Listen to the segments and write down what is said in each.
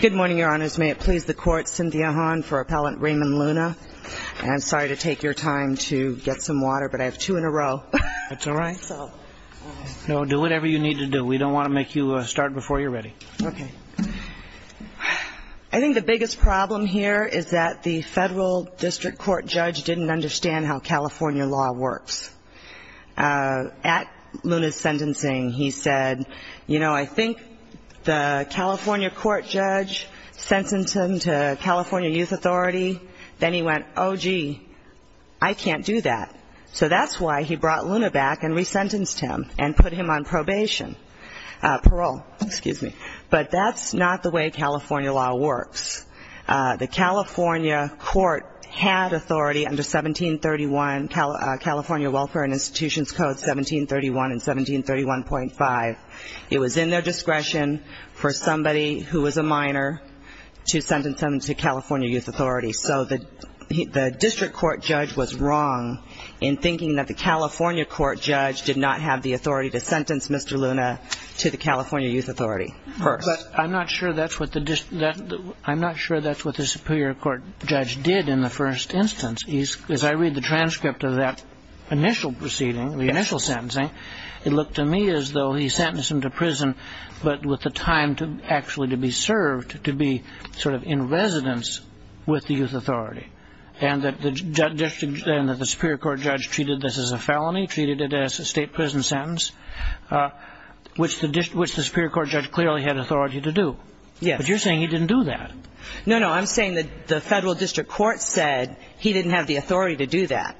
Good morning, Your Honors. May it please the Court, Cynthia Hahn for Appellant Raymond Luna. And I'm sorry to take your time to get some water, but I have two in a row. That's all right. No, do whatever you need to do. We don't want to make you start before you're ready. Okay. I think the biggest problem here is that the federal district court judge didn't understand how California law works. At Luna's sentencing, he said, you know, I think the California court judge sentenced him to California youth authority. Then he went, oh, gee, I can't do that. So that's why he brought Luna back and resentenced him and put him on probation. Parole, excuse me. But that's not the way California law works. The California court had authority under 1731, California Welfare and Institutions Code 1731 and 1731.5. It was in their discretion for somebody who was a minor to sentence him to California youth authority. So the district court judge was wrong in thinking that the California court judge did not have the authority to sentence Mr. Luna to the California youth authority. But I'm not sure that's what the I'm not sure that's what the superior court judge did in the first instance. As I read the transcript of that initial proceeding, the initial sentencing, it looked to me as though he sentenced him to prison, but with the time to actually to be served, to be sort of in residence with the youth authority. And that the Superior Court judge treated this as a felony, treated it as a state prison sentence, which the Superior Court judge clearly had authority to do. But you're saying he didn't do that. No, no, I'm saying that the federal district court said he didn't have the authority to do that,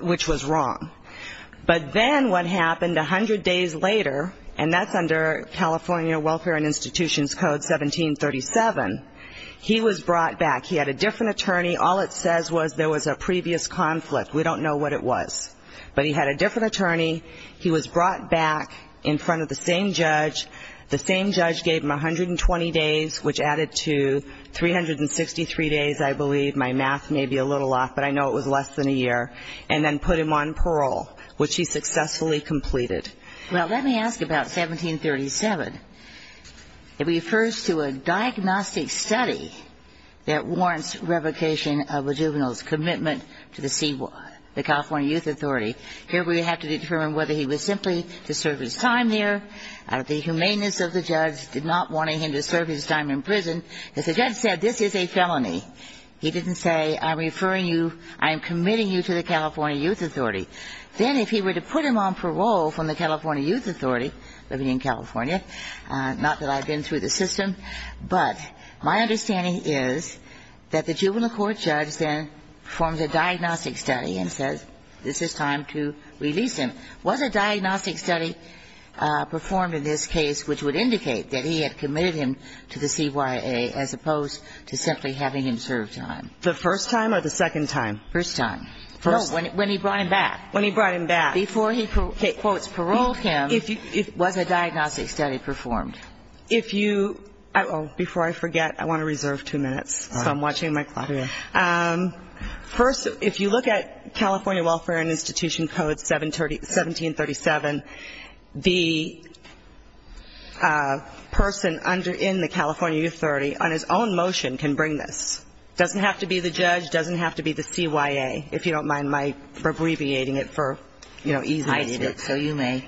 which was wrong. But then what happened 100 days later, and that's under California Welfare and Institutions Code 1737, he was brought back. He had a different attorney. All it says was there was a previous conflict. We don't know what it was. But he had a different attorney. He was brought back in front of the same judge. The same judge gave him 120 days, which added to 363 days, I believe. My math may be a little off, but I know it was less than a year. And then put him on parole, which he successfully completed. Well, let me ask about 1737. It refers to a diagnostic study that warrants revocation of a juvenile's commitment to the California Youth Authority. Here we have to determine whether he was simply to serve his time there. The humaneness of the judge did not want him to serve his time in prison. As the judge said, this is a felony. He didn't say I'm referring you, I'm committing you to the California Youth Authority. Then if he were to put him on parole from the California Youth Authority, living in California, not that I've been through the system, but my understanding is that the juvenile court judge then forms a diagnostic study and says this is time to release him. Was a diagnostic study performed in this case which would indicate that he had committed him to the CYA as opposed to simply having him serve time? The first time or the second time? First time. No, when he brought him back. When he brought him back. Before he, quote, paroled him, was a diagnostic study performed? If you, before I forget, I want to reserve two minutes. So I'm watching my clock. Okay. First, if you look at California Welfare and Institution Code 1737, the person in the California Youth Authority on his own motion can bring this. It doesn't have to be the judge. It doesn't have to be the CYA. If you don't mind my abbreviating it for easiness. So you may.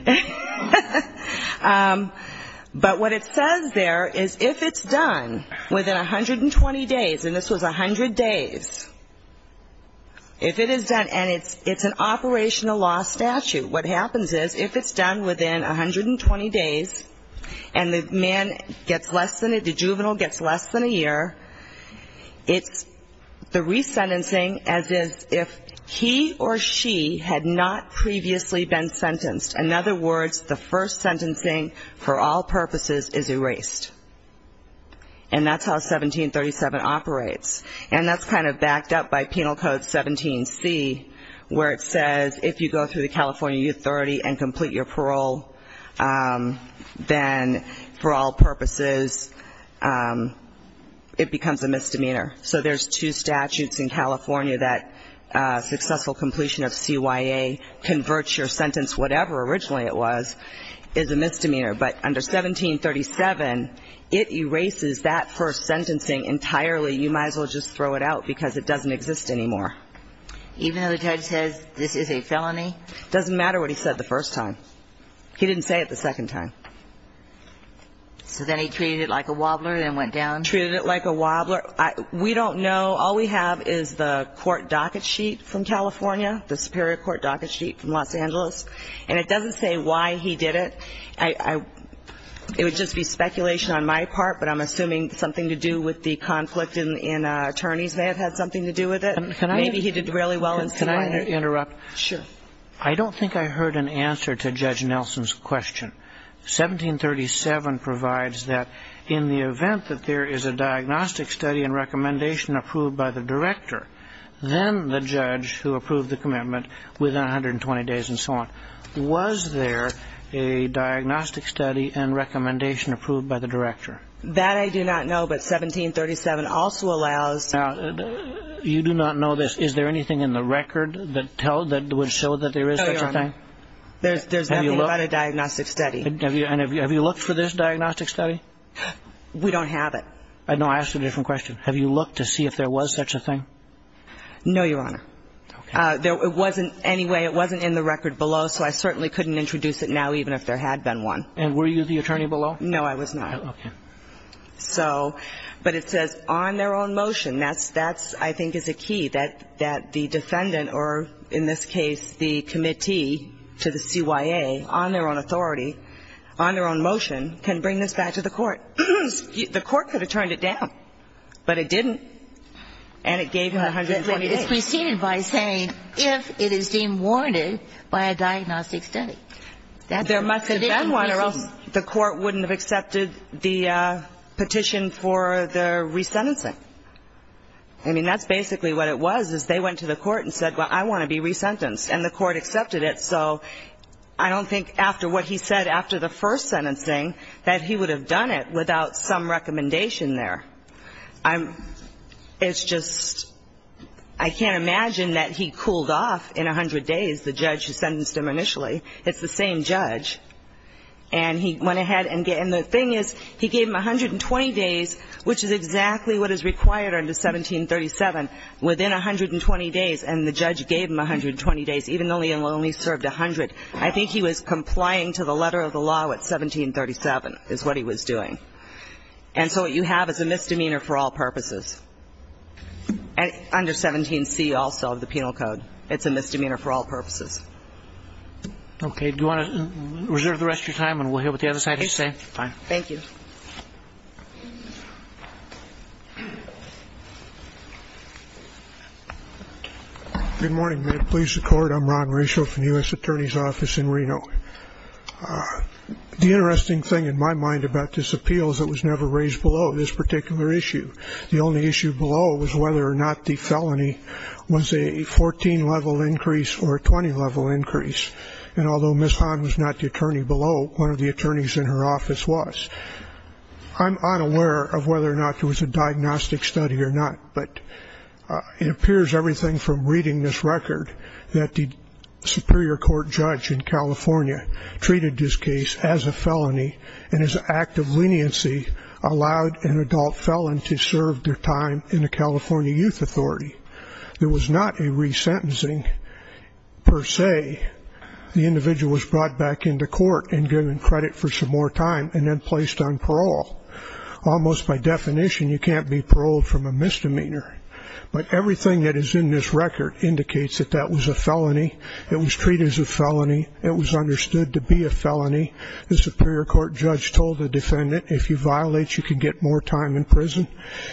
But what it says there is if it's done within 120 days, and this was 100 days, if it is done, and it's an operational law statute, what happens is if it's done within 120 days and the man gets less than, the juvenile gets less than a year, it's the resentencing as if he or she had not previously been sentenced. In other words, the first sentencing for all purposes is erased. And that's how 1737 operates. And that's kind of backed up by Penal Code 17C, where it says if you go through the California Youth Authority and complete your parole, then for all purposes it becomes a misdemeanor. So there's two statutes in California that successful completion of CYA, convert your sentence, whatever originally it was, is a misdemeanor. But under 1737, it erases that first sentencing entirely. You might as well just throw it out because it doesn't exist anymore. Even though the judge says this is a felony? It doesn't matter what he said the first time. He didn't say it the second time. So then he treated it like a wobbler and then went down? Treated it like a wobbler. We don't know. All we have is the court docket sheet from California, the superior court docket sheet from Los Angeles. And it doesn't say why he did it. It would just be speculation on my part, but I'm assuming something to do with the conflict in attorneys may have had something to do with it. Maybe he did really well in signing it. Can I interrupt? Sure. I don't think I heard an answer to Judge Nelson's question. 1737 provides that in the event that there is a diagnostic study and recommendation approved by the director, then the judge who approved the commitment within 120 days and so on. Was there a diagnostic study and recommendation approved by the director? That I do not know, but 1737 also allows. You do not know this. Is there anything in the record that would show that there is such a thing? No, Your Honor. There's nothing about a diagnostic study. And have you looked for this diagnostic study? We don't have it. No, I asked a different question. Have you looked to see if there was such a thing? No, Your Honor. Anyway, it wasn't in the record below, so I certainly couldn't introduce it now even if there had been one. And were you the attorney below? No, I was not. Okay. So, but it says on their own motion. That's, I think, is a key, that the defendant or, in this case, the committee to the CYA on their own authority, on their own motion, can bring this back to the court. The court could have turned it down, but it didn't, and it gave him 120 days. It's preceded by saying if it is deemed warranted by a diagnostic study. There must have been one or else the court wouldn't have accepted the petition for the resentencing. I mean, that's basically what it was, is they went to the court and said, well, I want to be resentenced, and the court accepted it. So I don't think after what he said after the first sentencing, that he would have done it without some recommendation there. It's just, I can't imagine that he cooled off in 100 days, the judge who sentenced him initially. It's the same judge. And he went ahead and the thing is, he gave him 120 days, which is exactly what is required under 1737, within 120 days. And the judge gave him 120 days, even though he only served 100. I think he was complying to the letter of the law at 1737 is what he was doing. And so what you have is a misdemeanor for all purposes. Under 17C also of the penal code, it's a misdemeanor for all purposes. Okay. Do you want to reserve the rest of your time and we'll hear what the other side has to say? Fine. Thank you. Good morning. May it please the Court. I'm Ron Reshoff from the U.S. Attorney's Office in Reno. The interesting thing in my mind about this appeal is it was never raised below this particular issue. The only issue below was whether or not the felony was a 14-level increase or a 20-level increase. And although Ms. Hahn was not the attorney below, one of the attorneys in her office was. I'm unaware of whether or not there was a diagnostic study or not, but it appears everything from reading this record that the superior court judge in California treated this case as a felony and as an act of leniency allowed an adult felon to serve their time in the California Youth Authority. There was not a resentencing per se. The individual was brought back into court and given credit for some more time and then placed on parole. Almost by definition, you can't be paroled from a misdemeanor. But everything that is in this record indicates that that was a felony. It was treated as a felony. It was understood to be a felony. The superior court judge told the defendant, if you violate, you can get more time in prison.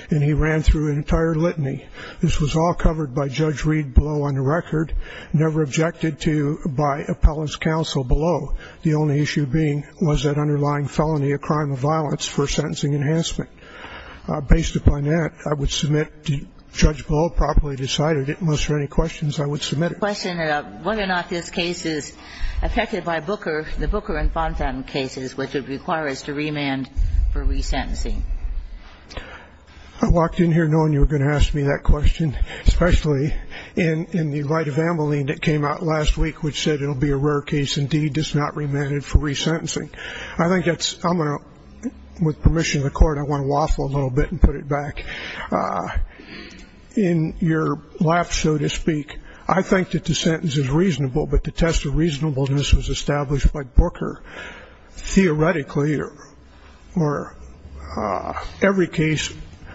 And he ran through an entire litany. This was all covered by Judge Reed below on the record, never objected to by appellant's counsel below. The only issue being was that underlying felony a crime of violence for sentencing enhancement. Based upon that, I would submit, the judge below properly decided it. And unless there are any questions, I would submit it. I have a question about whether or not this case is affected by Booker, the Booker and Fontan cases, which would require us to remand for resentencing. I walked in here knowing you were going to ask me that question, especially in the light of Ameline that came out last week which said it will be a rare case indeed, does not remanded for resentencing. I think that's, I'm going to, with permission of the court, I want to waffle a little bit and put it back. In your lap, so to speak, I think that the sentence is reasonable, but the test of reasonableness was established by Booker. Theoretically, every case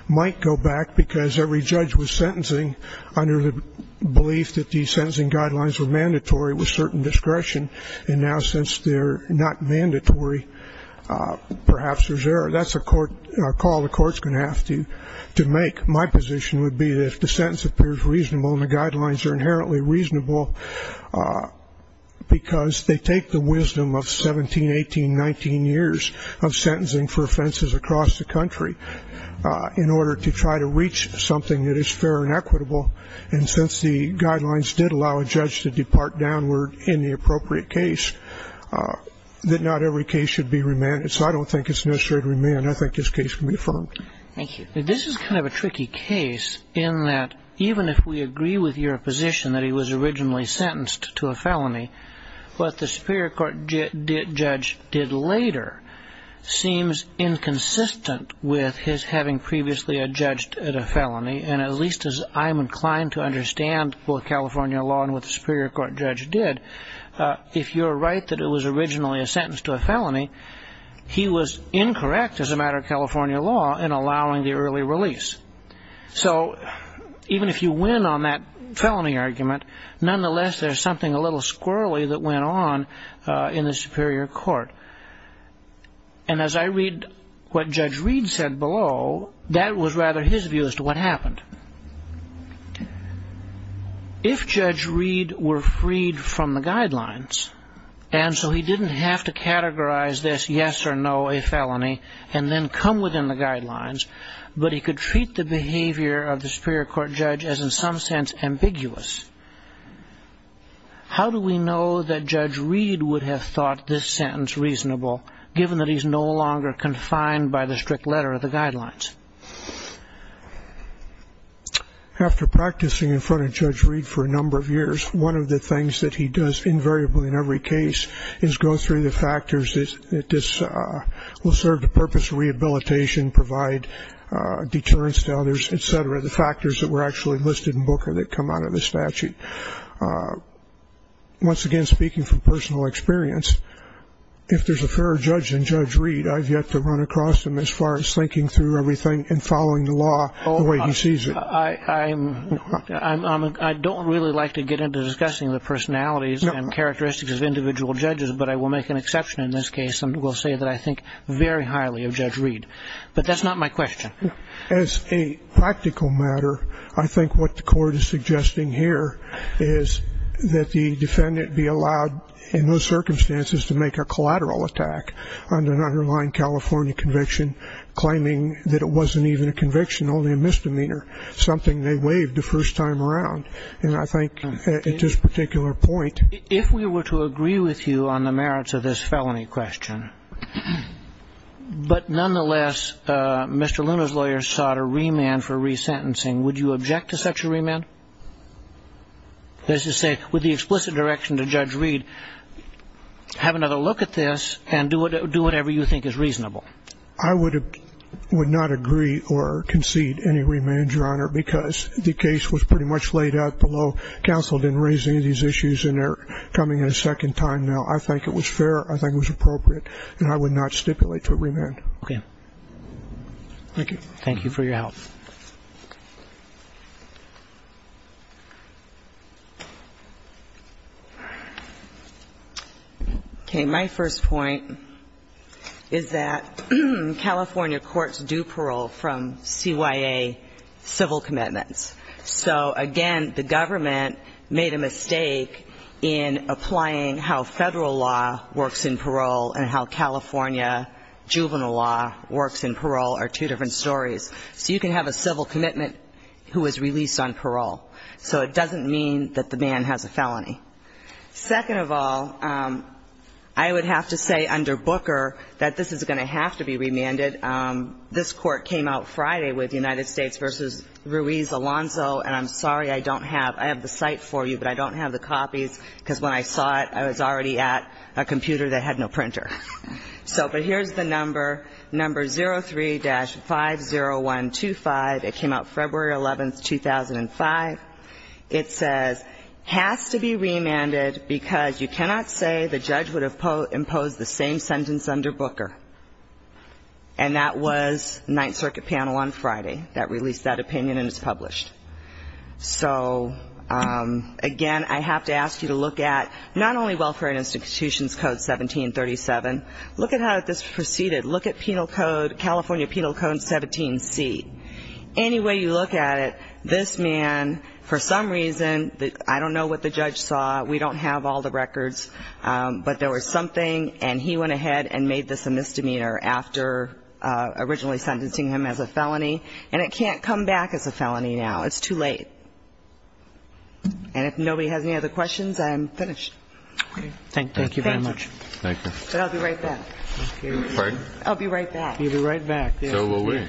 might go back because every judge was sentencing under the belief that these sentencing guidelines were mandatory with certain discretion. And now since they're not mandatory, perhaps there's error. That's a call the court's going to have to make. My position would be that if the sentence appears reasonable and the guidelines are inherently reasonable because they take the wisdom of 17, 18, 19 years of sentencing for offenses across the country in order to try to reach something that is fair and equitable, and since the guidelines did allow a judge to depart downward in the appropriate case, that not every case should be remanded. So I don't think it's necessary to remand. I think this case can be affirmed. Thank you. This is kind of a tricky case in that even if we agree with your position that he was originally sentenced to a felony, what the Superior Court judge did later seems inconsistent with his having previously judged a felony. And at least as I'm inclined to understand both California law and what the Superior Court judge did, if you're right that it was originally a sentence to a felony, he was incorrect as a matter of California law in allowing the early release. So even if you win on that felony argument, nonetheless, there's something a little squirrely that went on in the Superior Court. And as I read what Judge Reed said below, that was rather his view as to what happened. If Judge Reed were freed from the guidelines, and so he didn't have to categorize this yes or no, a felony, and then come within the guidelines, but he could treat the behavior of the Superior Court judge as in some sense ambiguous, how do we know that Judge Reed would have thought this sentence reasonable, given that he's no longer confined by the strict letter of the guidelines? After practicing in front of Judge Reed for a number of years, one of the things that he does invariably in every case is go through the factors that this will serve the purpose of rehabilitation, provide deterrence to others, et cetera, the factors that were actually listed in Booker that come out of the statute. Once again, speaking from personal experience, if there's a fairer judge than Judge Reed, I've yet to run across him as far as thinking through everything and following the law the way he sees it. I don't really like to get into discussing the personalities and characteristics of individual judges, but I will make an exception in this case and will say that I think very highly of Judge Reed. But that's not my question. As a practical matter, I think what the Court is suggesting here is that the defendant be allowed, in those circumstances, to make a collateral attack on an underlying California conviction, claiming that it wasn't even a conviction, only a misdemeanor, something they waived the first time around. And I think at this particular point ---- If we were to agree with you on the merits of this felony question, but nonetheless Mr. Luna's lawyer sought a remand for resentencing, would you object to such a remand? That is to say, with the explicit direction to Judge Reed, have another look at this and do whatever you think is reasonable. I would not agree or concede any remand, Your Honor, because the case was pretty much laid out below. Counsel didn't raise any of these issues and they're coming in a second time now. I think it was fair. I think it was appropriate. And I would not stipulate for remand. Okay. Thank you. Thank you for your help. Okay. My first point is that California courts do parole from CYA civil commitments. So, again, the government made a mistake in applying how Federal law works in parole and how California juvenile law works in parole are two different stories. So you can have a civil commitment who is released on parole. So it doesn't mean that the man has a felony. Second of all, I would have to say under Booker that this is going to have to be remanded. This court came out Friday with United States v. Ruiz Alonzo, and I'm sorry I don't have the site for you, but I don't have the copies because when I saw it, I was already at a computer that had no printer. But here's the number, number 03-50125. It came out February 11, 2005. It says, has to be remanded because you cannot say the judge would have imposed the same sentence under Booker. And that was Ninth Circuit panel on Friday that released that opinion and it's published. So, again, I have to ask you to look at not only Welfare and Institutions Code 1737, look at how this proceeded, look at California Penal Code 17C. Any way you look at it, this man, for some reason, I don't know what the judge saw, we don't have all the records, but there was something and he went ahead and made this a misdemeanor after originally sentencing him as a felony, and it can't come back as a felony now. It's too late. And if nobody has any other questions, I'm finished. Thank you very much. Thank you. But I'll be right back. Pardon? I'll be right back. You'll be right back. So will we.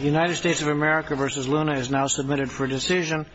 United States of America v. Luna is now submitted for decision.